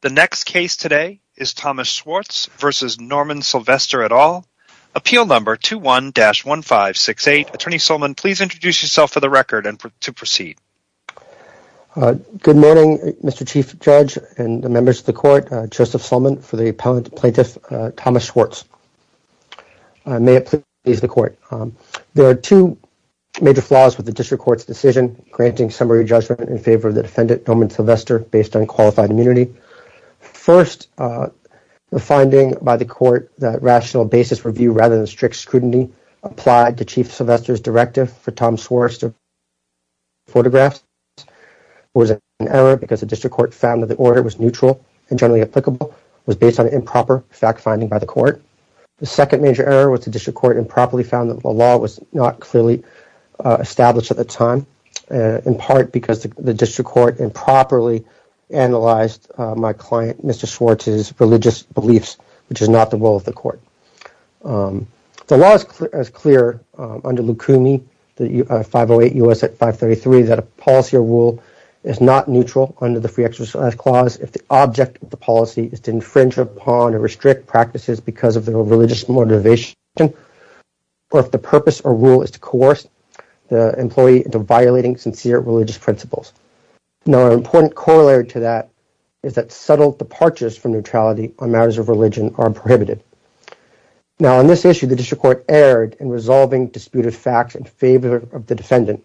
The next case today is Thomas Schwartz v. Norman Sylvester et al., Appeal No. 21-1568. Attorney Solman, please introduce yourself for the record and to proceed. Good morning, Mr. Chief Judge and members of the Court. Joseph Solman for the Appellant Plaintiff, Thomas Schwartz. May it please the Court. There are two major flaws with the District Court's decision granting summary judgment in favor of the defendant, Norman Sylvester, based on qualified immunity. First, the finding by the Court that rational basis review rather than strict scrutiny applied to Chief Sylvester's directive for Thomas Schwartz to photograph was an error because the District Court found that the order was neutral and generally applicable, was based on improper fact-finding by the Court. The second major error was the District Court improperly found that the law was not clearly established at the time, in part because the District Court improperly analyzed my client, Mr. Schwartz's, religious beliefs, which is not the role of the Court. The law is clear under LUCUMI 508 U.S. 533 that a policy or rule is not neutral under the Free Exercise Clause if the object of the policy is to infringe upon or restrict practices because of their religious motivation, or if the purpose or rule is to coerce the employee into violating sincere religious principles. Now, an important corollary to that is that subtle departures from neutrality on matters of religion are prohibited. Now, on this issue, the District Court erred in resolving disputed facts in favor of the defendant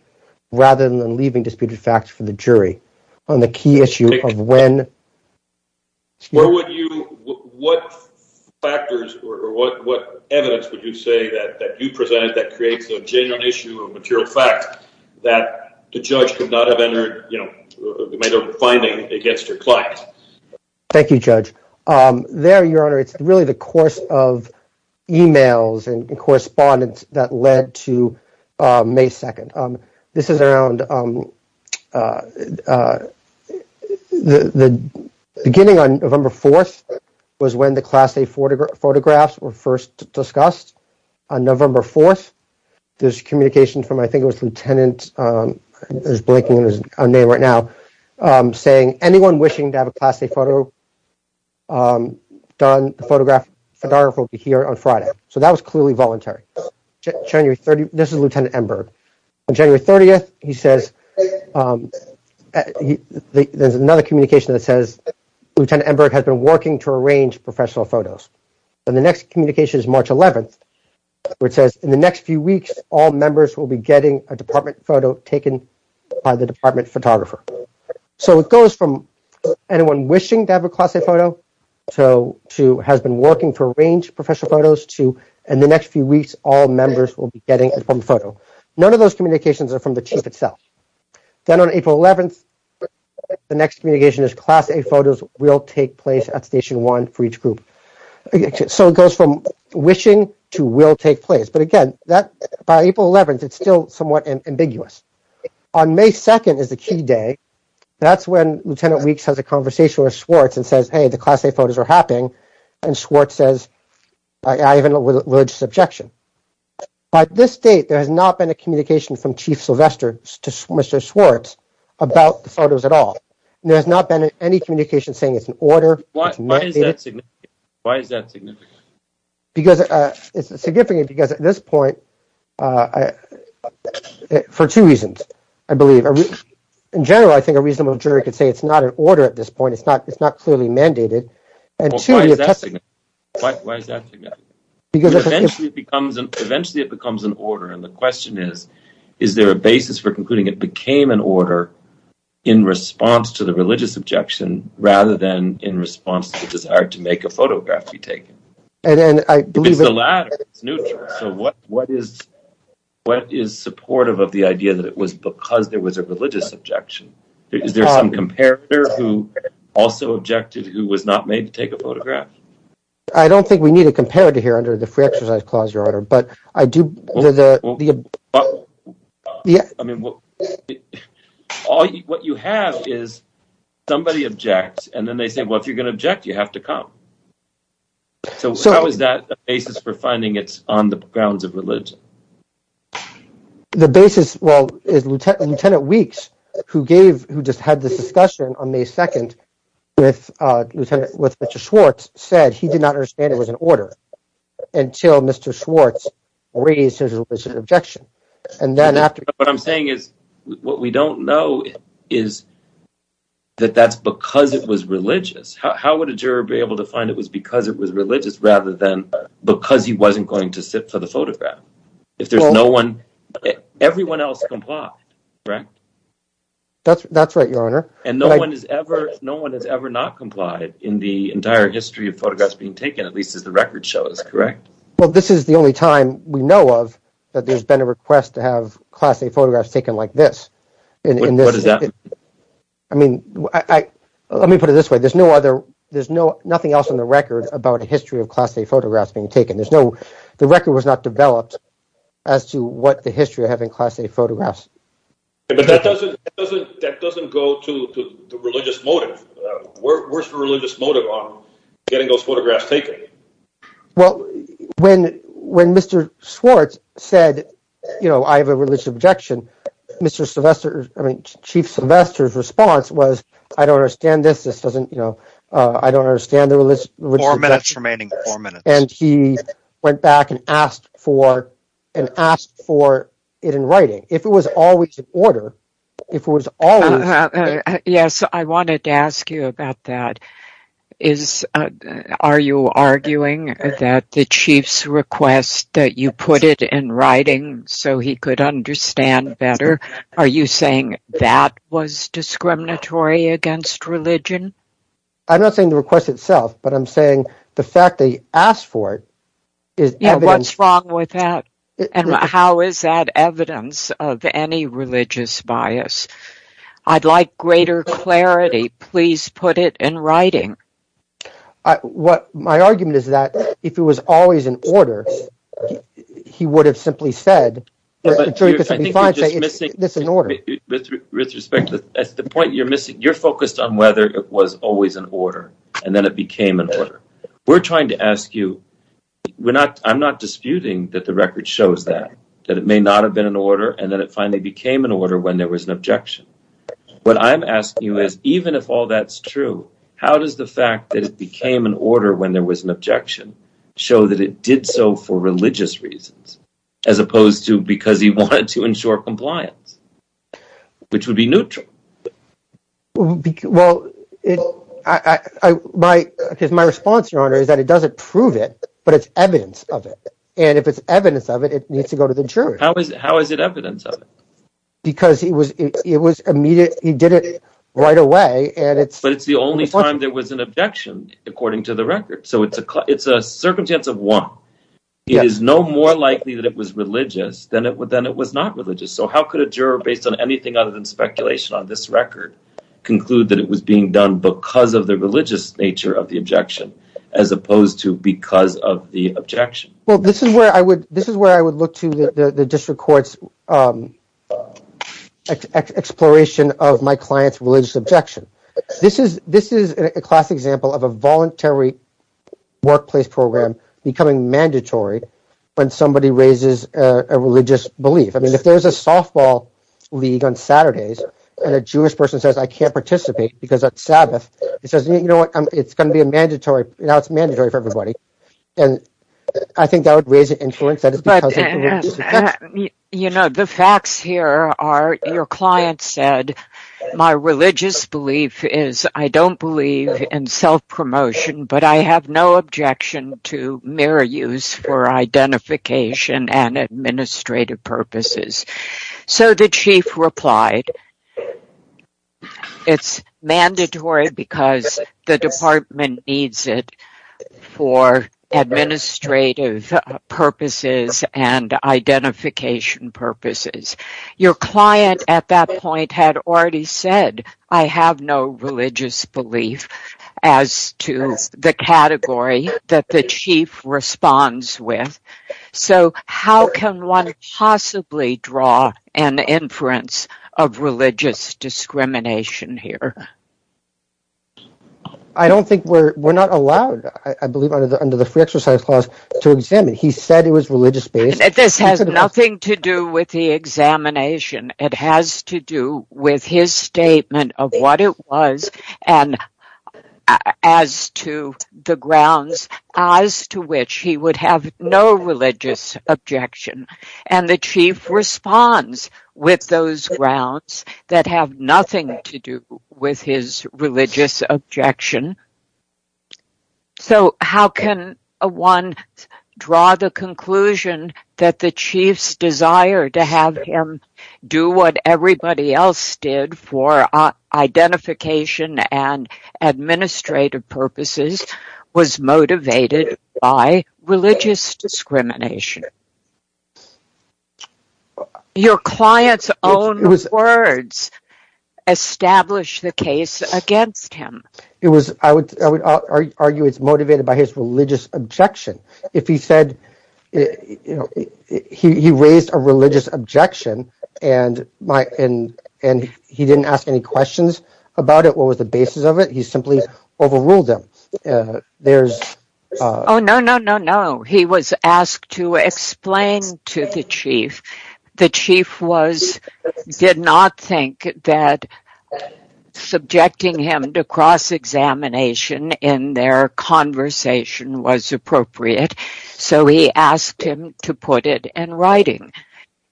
rather than leaving disputed facts for the jury on the key issue of when… …factors or what evidence would you say that you presented that creates a genuine issue or material fact that the judge could not have entered, you know, made a finding against your client? Thank you, Judge. There, Your Honor, it's really the course of emails and correspondence that led to May 2nd. This is around the beginning on November 4th was when the Class A photographs were first discussed. On November 4th, there's communication from, I think it was Lieutenant, there's a blank in his name right now, saying anyone wishing to have a Class A photograph will be here on Friday. So, that was clearly voluntary. January 30th, this is Lieutenant Emberg. On January 30th, he says, there's another communication that says, Lieutenant Emberg has been working to arrange professional photos. And the next communication is March 11th, where it says, in the next few weeks, all members will be getting a department photo taken by the department photographer. So, it goes from anyone wishing to have a Class A photo to has been working to arrange professional photos to, in the next few weeks, all members will be getting a department photo. None of those communications are from the Chief itself. Then on April 11th, the next communication is Class A photos will take place at Station One for each group. So, it goes from wishing to will take place. But again, that by April 11th, it's still somewhat ambiguous. On May 2nd is the key day. That's when Lieutenant Weeks has a conversation with Schwartz and says, hey, the Class A photos are happening. And Schwartz says, I have a religious objection. By this date, there has not been a communication from Chief Sylvester to Mr. Schwartz about the photos at all. And there has not been any communication saying it's an order. Why is that significant? Because it's significant because at this point, for two reasons, I believe. In general, I think a reasonable jury could say it's not an order at this point. It's not clearly mandated. Why is that significant? Eventually, it becomes an order. And the question is, is there a basis for concluding it became an order in response to the religious objection rather than in response to the desire to make a photograph be taken? It's the latter. It's neutral. So, what is supportive of the idea that it was because there was a religious objection? Is there some comparator who also objected, who was not made to take a photograph? I don't think we need a comparator here under the free exercise clause, Your Honor. But I do... What you have is somebody objects, and then they say, well, if you're going to object, you have to come. So, how is that a basis for finding it's on the grounds of religion? The basis, well, is Lt. Weeks, who just had this discussion on May 2nd with Lt. Schwartz, said he did not understand it was an order until Mr. Schwartz raised his objection. And then after... What I'm saying is, what we don't know is that that's because it was religious. How would a juror be able to find it was because it was religious rather than because he wasn't going to sit for the photograph? If there's no one... Everyone else complied, correct? That's right, Your Honor. And no one has ever not complied in the entire history of photographs being taken, at least as the record shows, correct? Well, this is the only time we know of that there's been a request to have Class A photographs taken like this. What does that mean? I mean, let me put it this way. There's no other... There's nothing else on the record about a history of Class A photographs being taken. There's no... The record was not developed as to what the history of having Class A photographs. But that doesn't go to the religious motive. Where's the religious motive on getting those photographs taken? Well, when Mr. Schwartz said, you know, I have a religious objection, Mr. Sylvester, I mean, Chief Sylvester's response was, I don't understand this. This doesn't, you know, I don't understand the religious objection. Four minutes remaining. Four minutes. And he went back and asked for, and asked for it in writing. If it was always in order, if it was always... Yes, I wanted to ask you about that. Are you arguing that the Chief's request that you put it in writing so he could understand better, are you saying that was discriminatory against religion? I'm not saying the request itself, but I'm saying the fact that he asked for it is evidence... Yeah, what's wrong with that? And how is that evidence of any religious bias? I'd like greater clarity. Please put it in writing. My argument is that if it was always in order, he would have simply said... I think you're just missing... It's in order. With respect, that's the point you're missing. You're focused on whether it was always in order, and then it became in order. We're trying to ask you, we're not, I'm not disputing that the record shows that, that it may not have been in order, and then it finally became in order when there was an objection. What I'm asking you is, even if all that's true, how does the fact that it became in order when there was an objection show that it did so for religious reasons, as opposed to because he wanted to ensure compliance, which would be neutral? Well, my response, Your Honor, is that it doesn't prove it, but it's evidence of it. And if it's evidence of it, it needs to go to the jurors. How is it evidence of it? Because he did it right away, and it's... But it's the only time there was an objection, according to the record, so it's a circumstance of one. It is no more likely that it was religious than it was not religious. So how could a juror, based on anything other than speculation on this record, conclude that it was being done because of the religious nature of the objection, as opposed to because of the objection? Well, this is where I would, this is where I would look to the district court's exploration of my client's religious objection. This is a classic example of a voluntary workplace program becoming mandatory when somebody raises a religious belief. I mean, if there's a softball league on Saturdays, and a Jewish person says, I can't participate because it's Sabbath, he says, you know what, it's going to be a mandatory, now it's mandatory for everybody. And I think that would raise an influence that it's because of religious objection. You know, the facts here are, your client said, my religious belief is, I don't believe in self-promotion, but I have no objection to mere use for identification and administrative purposes. So the chief replied, it's mandatory because the department needs it for administrative purposes and identification purposes. Your client at that point had already said, I have no religious belief as to the category that the chief responds with. So how can one possibly draw an inference of religious discrimination here? I don't think we're, we're not allowed, I believe, under the free exercise clause to examine. He said it was religious based. This has nothing to do with the examination. It has to do with his statement of what it was and as to the grounds as to which he would have no religious objection. And the chief responds with those grounds that have nothing to do with his religious objection. So how can one draw the conclusion that the chief's desire to have him do what everybody else did for identification and administrative purposes was motivated by religious discrimination? Your client's own words established the case against him. It was, I would argue it's motivated by his religious objection. If he said, you know, he raised a religious objection and he didn't ask any questions about it, what was the basis of it? He simply overruled them. There's... Oh, no, no, no, no. He was asked to explain to the chief. The chief was, did not think that subjecting him to cross-examination in their conversation was appropriate. So he asked him to put it in writing.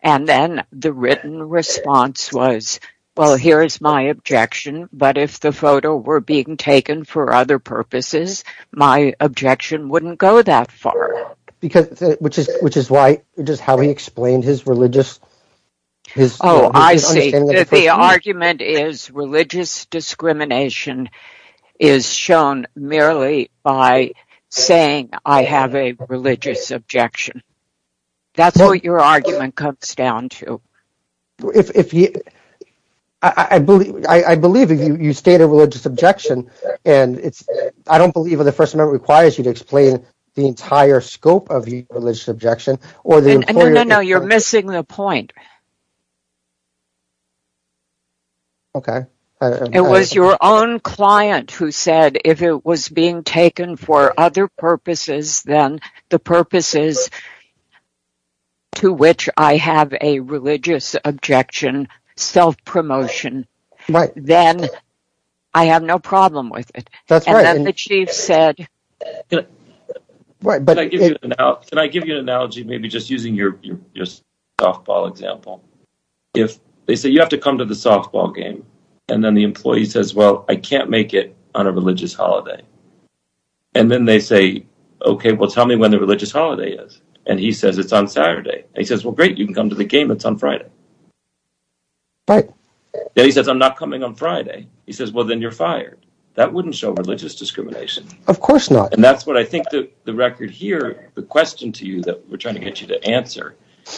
And then the written response was, well, here is my objection. But if the photo were being taken for other purposes, my objection wouldn't go that far. Because, which is why, which is how he explained his religious, his understanding of the person. Oh, I see. So the argument is religious discrimination is shown merely by saying, I have a religious objection. That's what your argument comes down to. I believe if you state a religious objection, and it's, I don't believe the First Amendment requires you to explain the entire scope of the religious objection, or the employer... No, no, no. You're missing the point. Okay. It was your own client who said, if it was being taken for other purposes than the purposes to which I have a religious objection, self-promotion, then I have no problem with it. That's right. And then the chief said... Can I give you an analogy, maybe just using your softball example? If they say, you have to come to the softball game, and then the employee says, well, I can't make it on a religious holiday. And then they say, okay, well, tell me when the religious holiday is. And he says, it's on Saturday. And he says, well, great, you can come to the game. It's on Friday. Right. Then he says, I'm not coming on Friday. He says, well, then you're fired. That wouldn't show religious discrimination. Of course not. And that's what I think the record here, the question to you that we're trying to get you to answer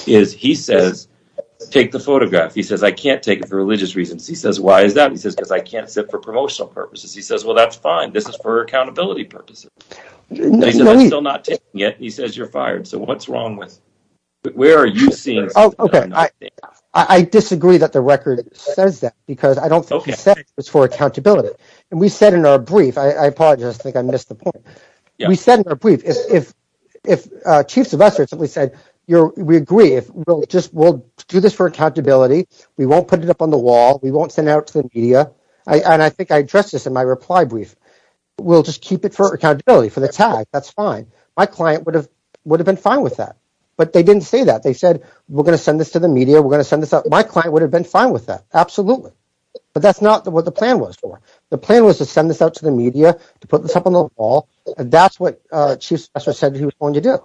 is, he says, take the photograph. He says, I can't take it for religious reasons. He says, why is that? He says, because I can't sit for promotional purposes. He says, well, that's fine. This is for accountability purposes. And he says, I'm still not taking it. He says, you're fired. So what's wrong with... Where are you seeing something that I'm not seeing? I disagree that the record says that, because I don't think it says it's for accountability. And we said in our brief, I apologize, I think I missed the point. We said in our brief, if Chief Sylvester simply said, we agree, we'll do this for accountability. We won't put it up on the wall. We won't send out to the media. And I think I addressed this in my reply brief. We'll just keep it for accountability, for the tag. That's fine. My client would have been fine with that. But they didn't say that. They said, we're going to send this to the media. We're going to send this out. My client would have been fine with that. Absolutely. But that's not what the plan was for. The plan was to send this out to the media, to put this up on the wall. That's what Chief Sylvester said he was going to do.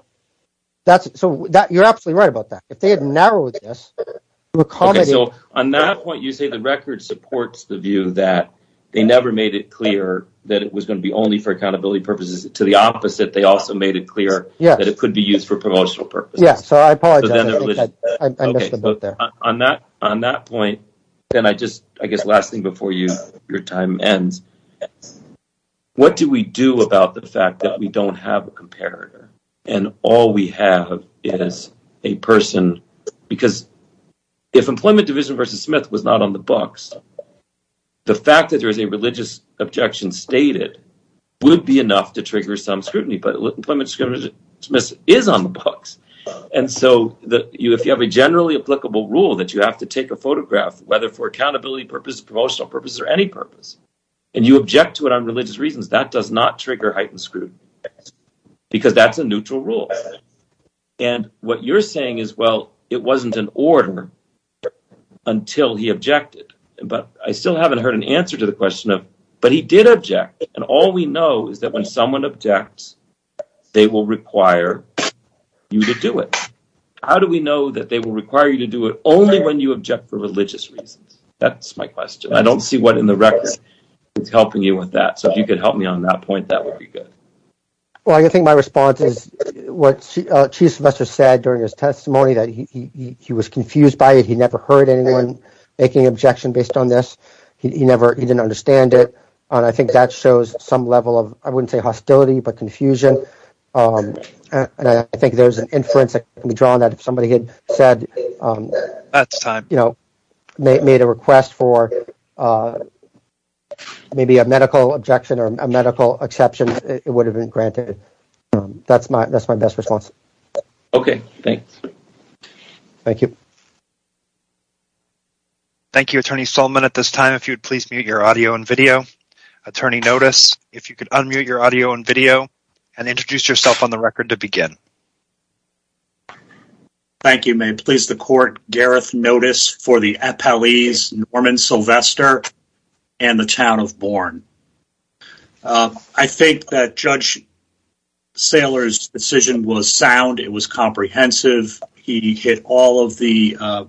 So you're absolutely right about that. If they had narrowed this, we would call it... Okay, so on that point, you say the record supports the view that they never made it clear that it was going to be only for accountability purposes. To the opposite, they also made it clear that it could be used for promotional purposes. Yeah, so I apologize. I think I missed the point there. On that point, then I guess last thing before your time ends, what do we do about the fact that we don't have a comparator and all we have is a person? Because if Employment Division v. Smith was not on the books, the fact that there is a religious objection stated would be enough to trigger some scrutiny. But Employment Division v. Smith is on the books. And so if you have a generally applicable rule that you have to take a photograph, whether for accountability purposes, promotional purposes, or any purpose, and you object to it on religious reasons, that does not trigger heightened scrutiny. Because that's a neutral rule. And what you're saying is, well, it wasn't in order until he objected. But I still haven't heard an answer to the question of, but he did object. And all we know is that when someone objects, they will require you to do it. How do we know that they will require you to do it only when you object for religious reasons? That's my question. I don't see what in the records is helping you with that. So if you could help me on that point, that would be good. Well, I think my response is what Chief Semester said during his testimony that he was confused by it. He never heard anyone making an objection based on this. He never, he didn't understand it. And I think that shows some level of, I wouldn't say hostility, but confusion. And I think there's an inference that can be drawn that if somebody had said, you know, made a request for maybe a medical objection or a medical exception, it would have been granted. That's my best response. Okay. Thanks. Thank you. Thank you, Attorney Solomon. At this time, if you'd please mute your audio and video. Attorney Notice, if you could unmute your audio and video and introduce yourself on the record to begin. Thank you. May it please the court. Gareth Notice for the Appellees, Norman Sylvester and the Town of Bourne. I think that Judge Saylor's decision was sound. It was comprehensive. He hit all of the,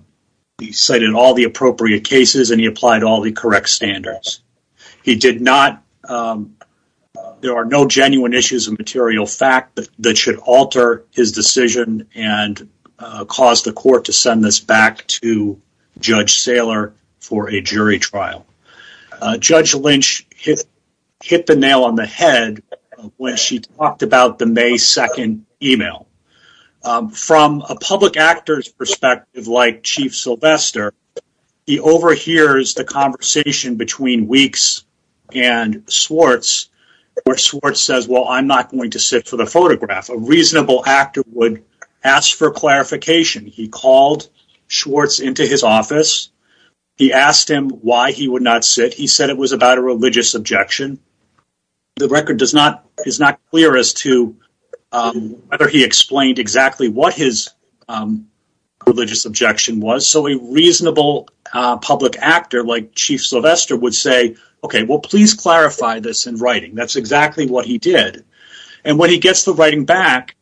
he cited all the appropriate cases and he applied all the correct standards. He did not, there are no genuine issues of material fact that should alter his decision and cause the court to send this back to Judge Saylor for a jury trial. Judge Lynch hit the nail on the head when she talked about the May 2nd email. From a public actor's perspective like Chief Sylvester, he overhears the conversation between Weeks and Schwartz where Schwartz says, well, I'm not going to sit for the photograph. A reasonable actor would ask for clarification. He called Schwartz into his office. He asked him why he would not sit. He said it was about a religious objection. The record is not clear as to whether he explained exactly what his religious objection was. So a reasonable public actor like Chief Sylvester would say, okay, well, please clarify this in writing. That's exactly what he did. And when he gets the writing back,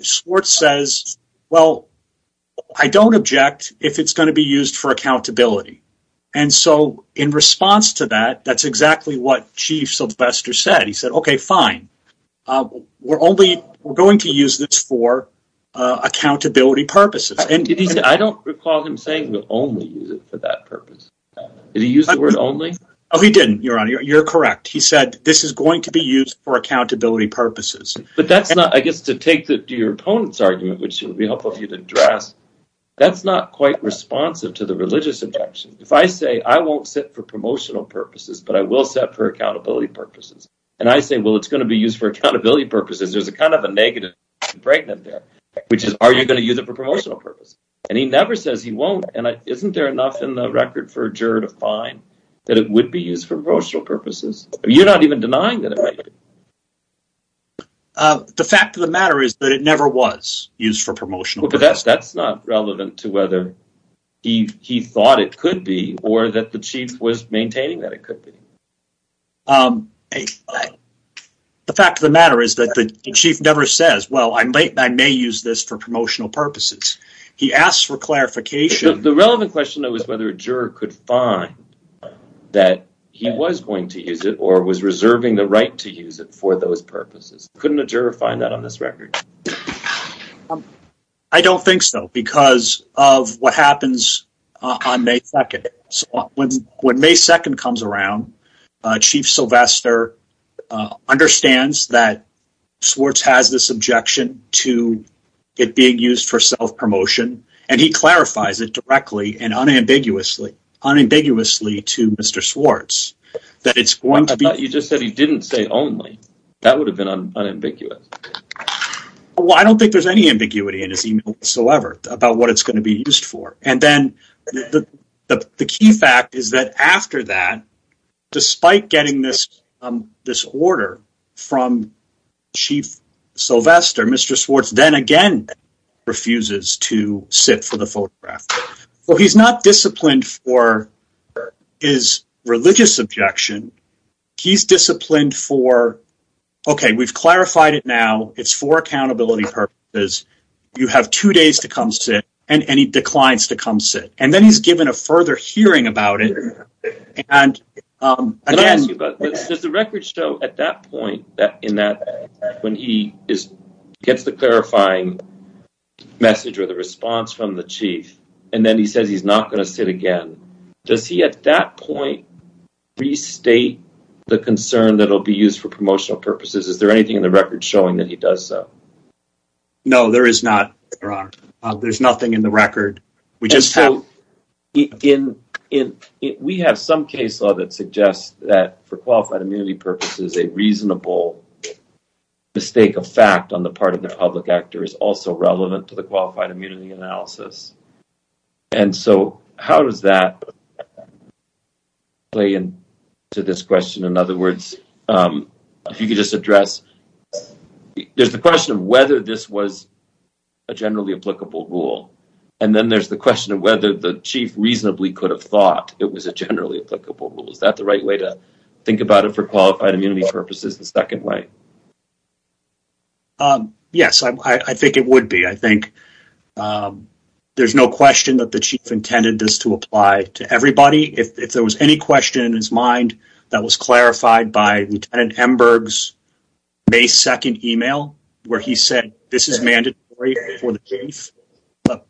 Schwartz says, well, I don't object if it's going to be used for accountability. And so in response to that, that's exactly what Chief Sylvester said. He said, okay, fine, we're going to use this for accountability purposes. I don't recall him saying only use it for that purpose. Did he use the word only? He didn't, Your Honor. You're correct. He said this is going to be used for accountability purposes. But that's not, I guess, to take your opponent's argument, which would be helpful for you to That's not quite responsive to the religious objection. If I say, I won't sit for promotional purposes, but I will sit for accountability purposes. And I say, well, it's going to be used for accountability purposes. There's a kind of a negative fragment there, which is, are you going to use it for promotional purposes? And he never says he won't. And isn't there enough in the record for a juror to find that it would be used for promotional purposes? You're not even denying that it might be. The fact of the matter is that it never was used for promotional purposes. That's not relevant to whether he thought it could be or that the chief was maintaining that it could be. The fact of the matter is that the chief never says, well, I may use this for promotional purposes. He asks for clarification. The relevant question, though, is whether a juror could find that he was going to use it or was reserving the right to use it for those purposes. Couldn't a juror find that on this record? I don't think so, because of what happens on May 2nd. When May 2nd comes around, Chief Sylvester understands that Swartz has this objection to it being used for self-promotion, and he clarifies it directly and unambiguously to Mr. Swartz. I thought you just said he didn't say only. That would have been unambiguous. Well, I don't think there's any ambiguity in his email whatsoever about what it's going to be used for. The key fact is that after that, despite getting this order from Chief Sylvester, Mr. Swartz then again refuses to sit for the photograph. He's not disciplined for his religious objection. He's disciplined for, okay, we've clarified it now. It's for accountability purposes. You have two days to come sit, and he declines to come sit, and then he's given a further hearing about it. Does the record show at that point, when he gets the clarifying message or the response from the chief, and then he says he's not going to sit again, does he at that point restate the concern that it'll be used for promotional purposes? Is there anything in the record showing that he does so? No, there is not, Your Honor. There's nothing in the record. We just have- We have some case law that suggests that for qualified immunity purposes, a reasonable mistake of fact on the part of the public actor is also relevant to the qualified immunity analysis, and so how does that play into this question? In other words, if you could just address, there's the question of whether this was a generally applicable rule, and then there's the question of whether the chief reasonably could have thought it was a generally applicable rule. Is that the right way to think about it for qualified immunity purposes? The second way? Yes, I think it would be. I think there's no question that the chief intended this to apply to everybody. If there was any question in his mind that was clarified by Lieutenant Emberg's May 2nd email, where he said this is mandatory for the chief,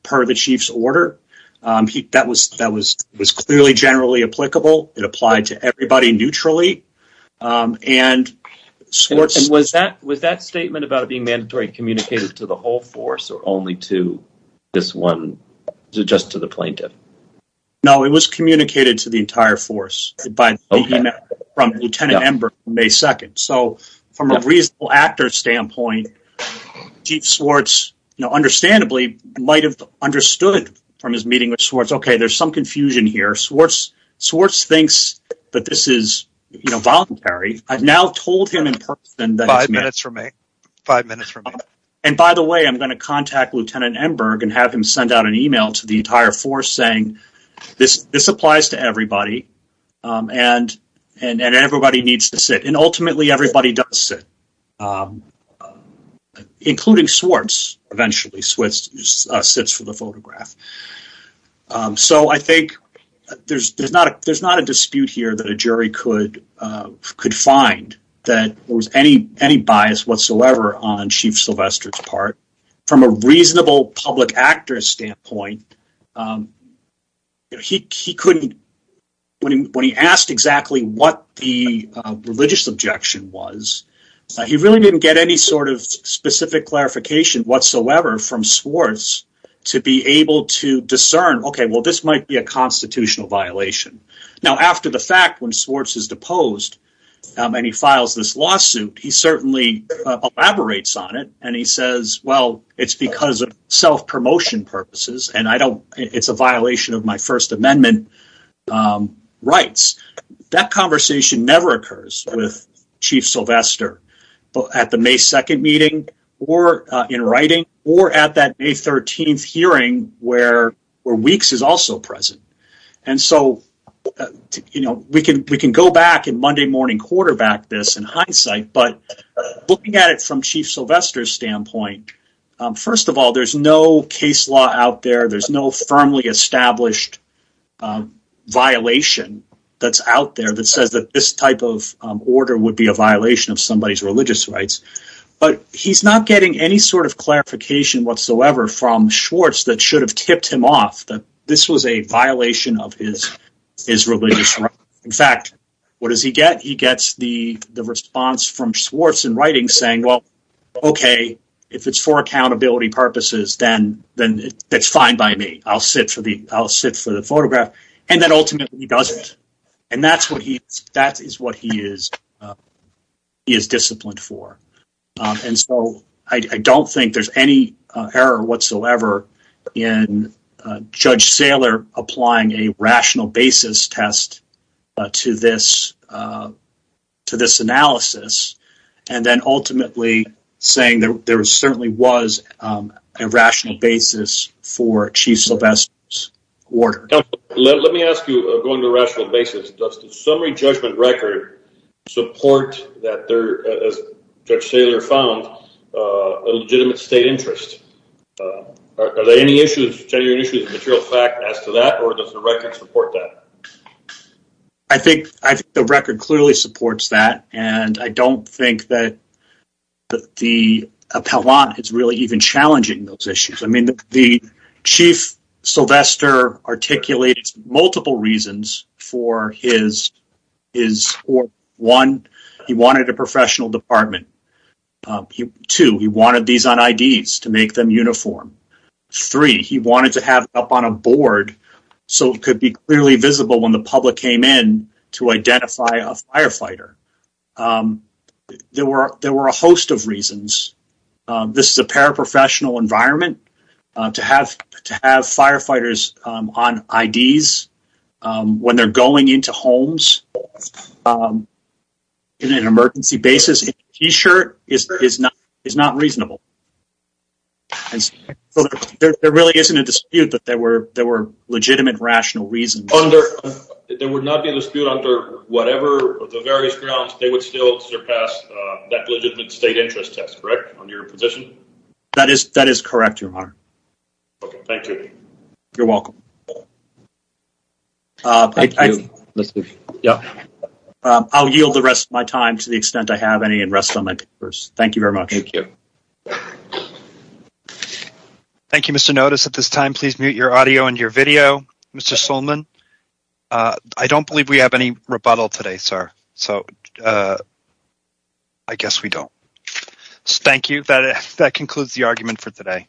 per the chief's order, that was clearly generally applicable. It applied to everybody neutrally. Was that statement about it being mandatory and communicated to the whole force or only to this one, just to the plaintiff? No, it was communicated to the entire force by the email from Lieutenant Emberg on May 2nd, so from a reasonable actor standpoint, Chief Swartz, understandably, might have understood from his meeting with Swartz, okay, there's some confusion here. Swartz thinks that this is voluntary. I've now told him in person that it's mandatory. Five minutes remain, five minutes remain. And by the way, I'm going to contact Lieutenant Emberg and have him send out an email to the entire force saying this applies to everybody and everybody needs to sit, and ultimately everybody does sit, including Swartz. Eventually, Swartz sits for the photograph. So I think there's not a dispute here that a jury could find that there was any bias whatsoever on Chief Sylvester's part. From a reasonable public actor standpoint, when he asked exactly what the religious objection was, he really didn't get any sort of specific clarification whatsoever from Swartz to be able to discern, okay, well, this might be a constitutional violation. Now, after the fact, when Swartz is deposed and he files this lawsuit, he certainly elaborates on it and he says, well, it's because of self-promotion purposes and it's a violation of my First Amendment rights. That conversation never occurs with Chief Sylvester at the May 2nd meeting or in writing or at that May 13th hearing where Weeks is also present. And so, we can go back and Monday morning quarterback this in hindsight, but looking at it from Chief Sylvester's standpoint, first of all, there's no case law out there, there's no firmly established violation that's out there that says that this type of order would be a violation of somebody's religious rights. But he's not getting any sort of clarification whatsoever from Swartz that should have tipped him off that this was a violation of his religious rights. In fact, what does he get? He gets the response from Swartz in writing saying, well, okay, if it's for accountability purposes, then that's fine by me. I'll sit for the photograph. And then ultimately, he doesn't. And that is what he is disciplined for. And so, I don't think there's any error whatsoever in Judge Saylor applying a rational basis test to this analysis and then ultimately saying there certainly was a rational basis for Chief Sylvester's order. Let me ask you, going to a rational basis, does the summary judgment record support that there, as Judge Saylor found, a legitimate state interest? Are there any issues, genuine issues, material fact as to that, or does the record support that? I think the record clearly supports that. And I don't think that the appellant is really even challenging those issues. The Chief Sylvester articulated multiple reasons for his order. One, he wanted a professional department. Two, he wanted these on IDs to make them uniform. Three, he wanted to have it up on a board so it could be clearly visible when the public came in to identify a firefighter. There were a host of reasons. This is a paraprofessional environment. To have firefighters on IDs when they're going into homes in an emergency basis in a t-shirt is not reasonable. There really isn't a dispute that there were legitimate rational reasons. There would not be a dispute under whatever, the various grounds, they would still surpass that legitimate state interest test, correct, on your position? That is correct, Your Honor. Okay, thank you. You're welcome. I'll yield the rest of my time to the extent I have any and rest on my papers. Thank you very much. Thank you. Thank you, Mr. Notice. At this time, please mute your audio and your video. Mr. Solman, I don't believe we have any rebuttal today, sir. So, I guess we don't. Thank you. That concludes the argument for today.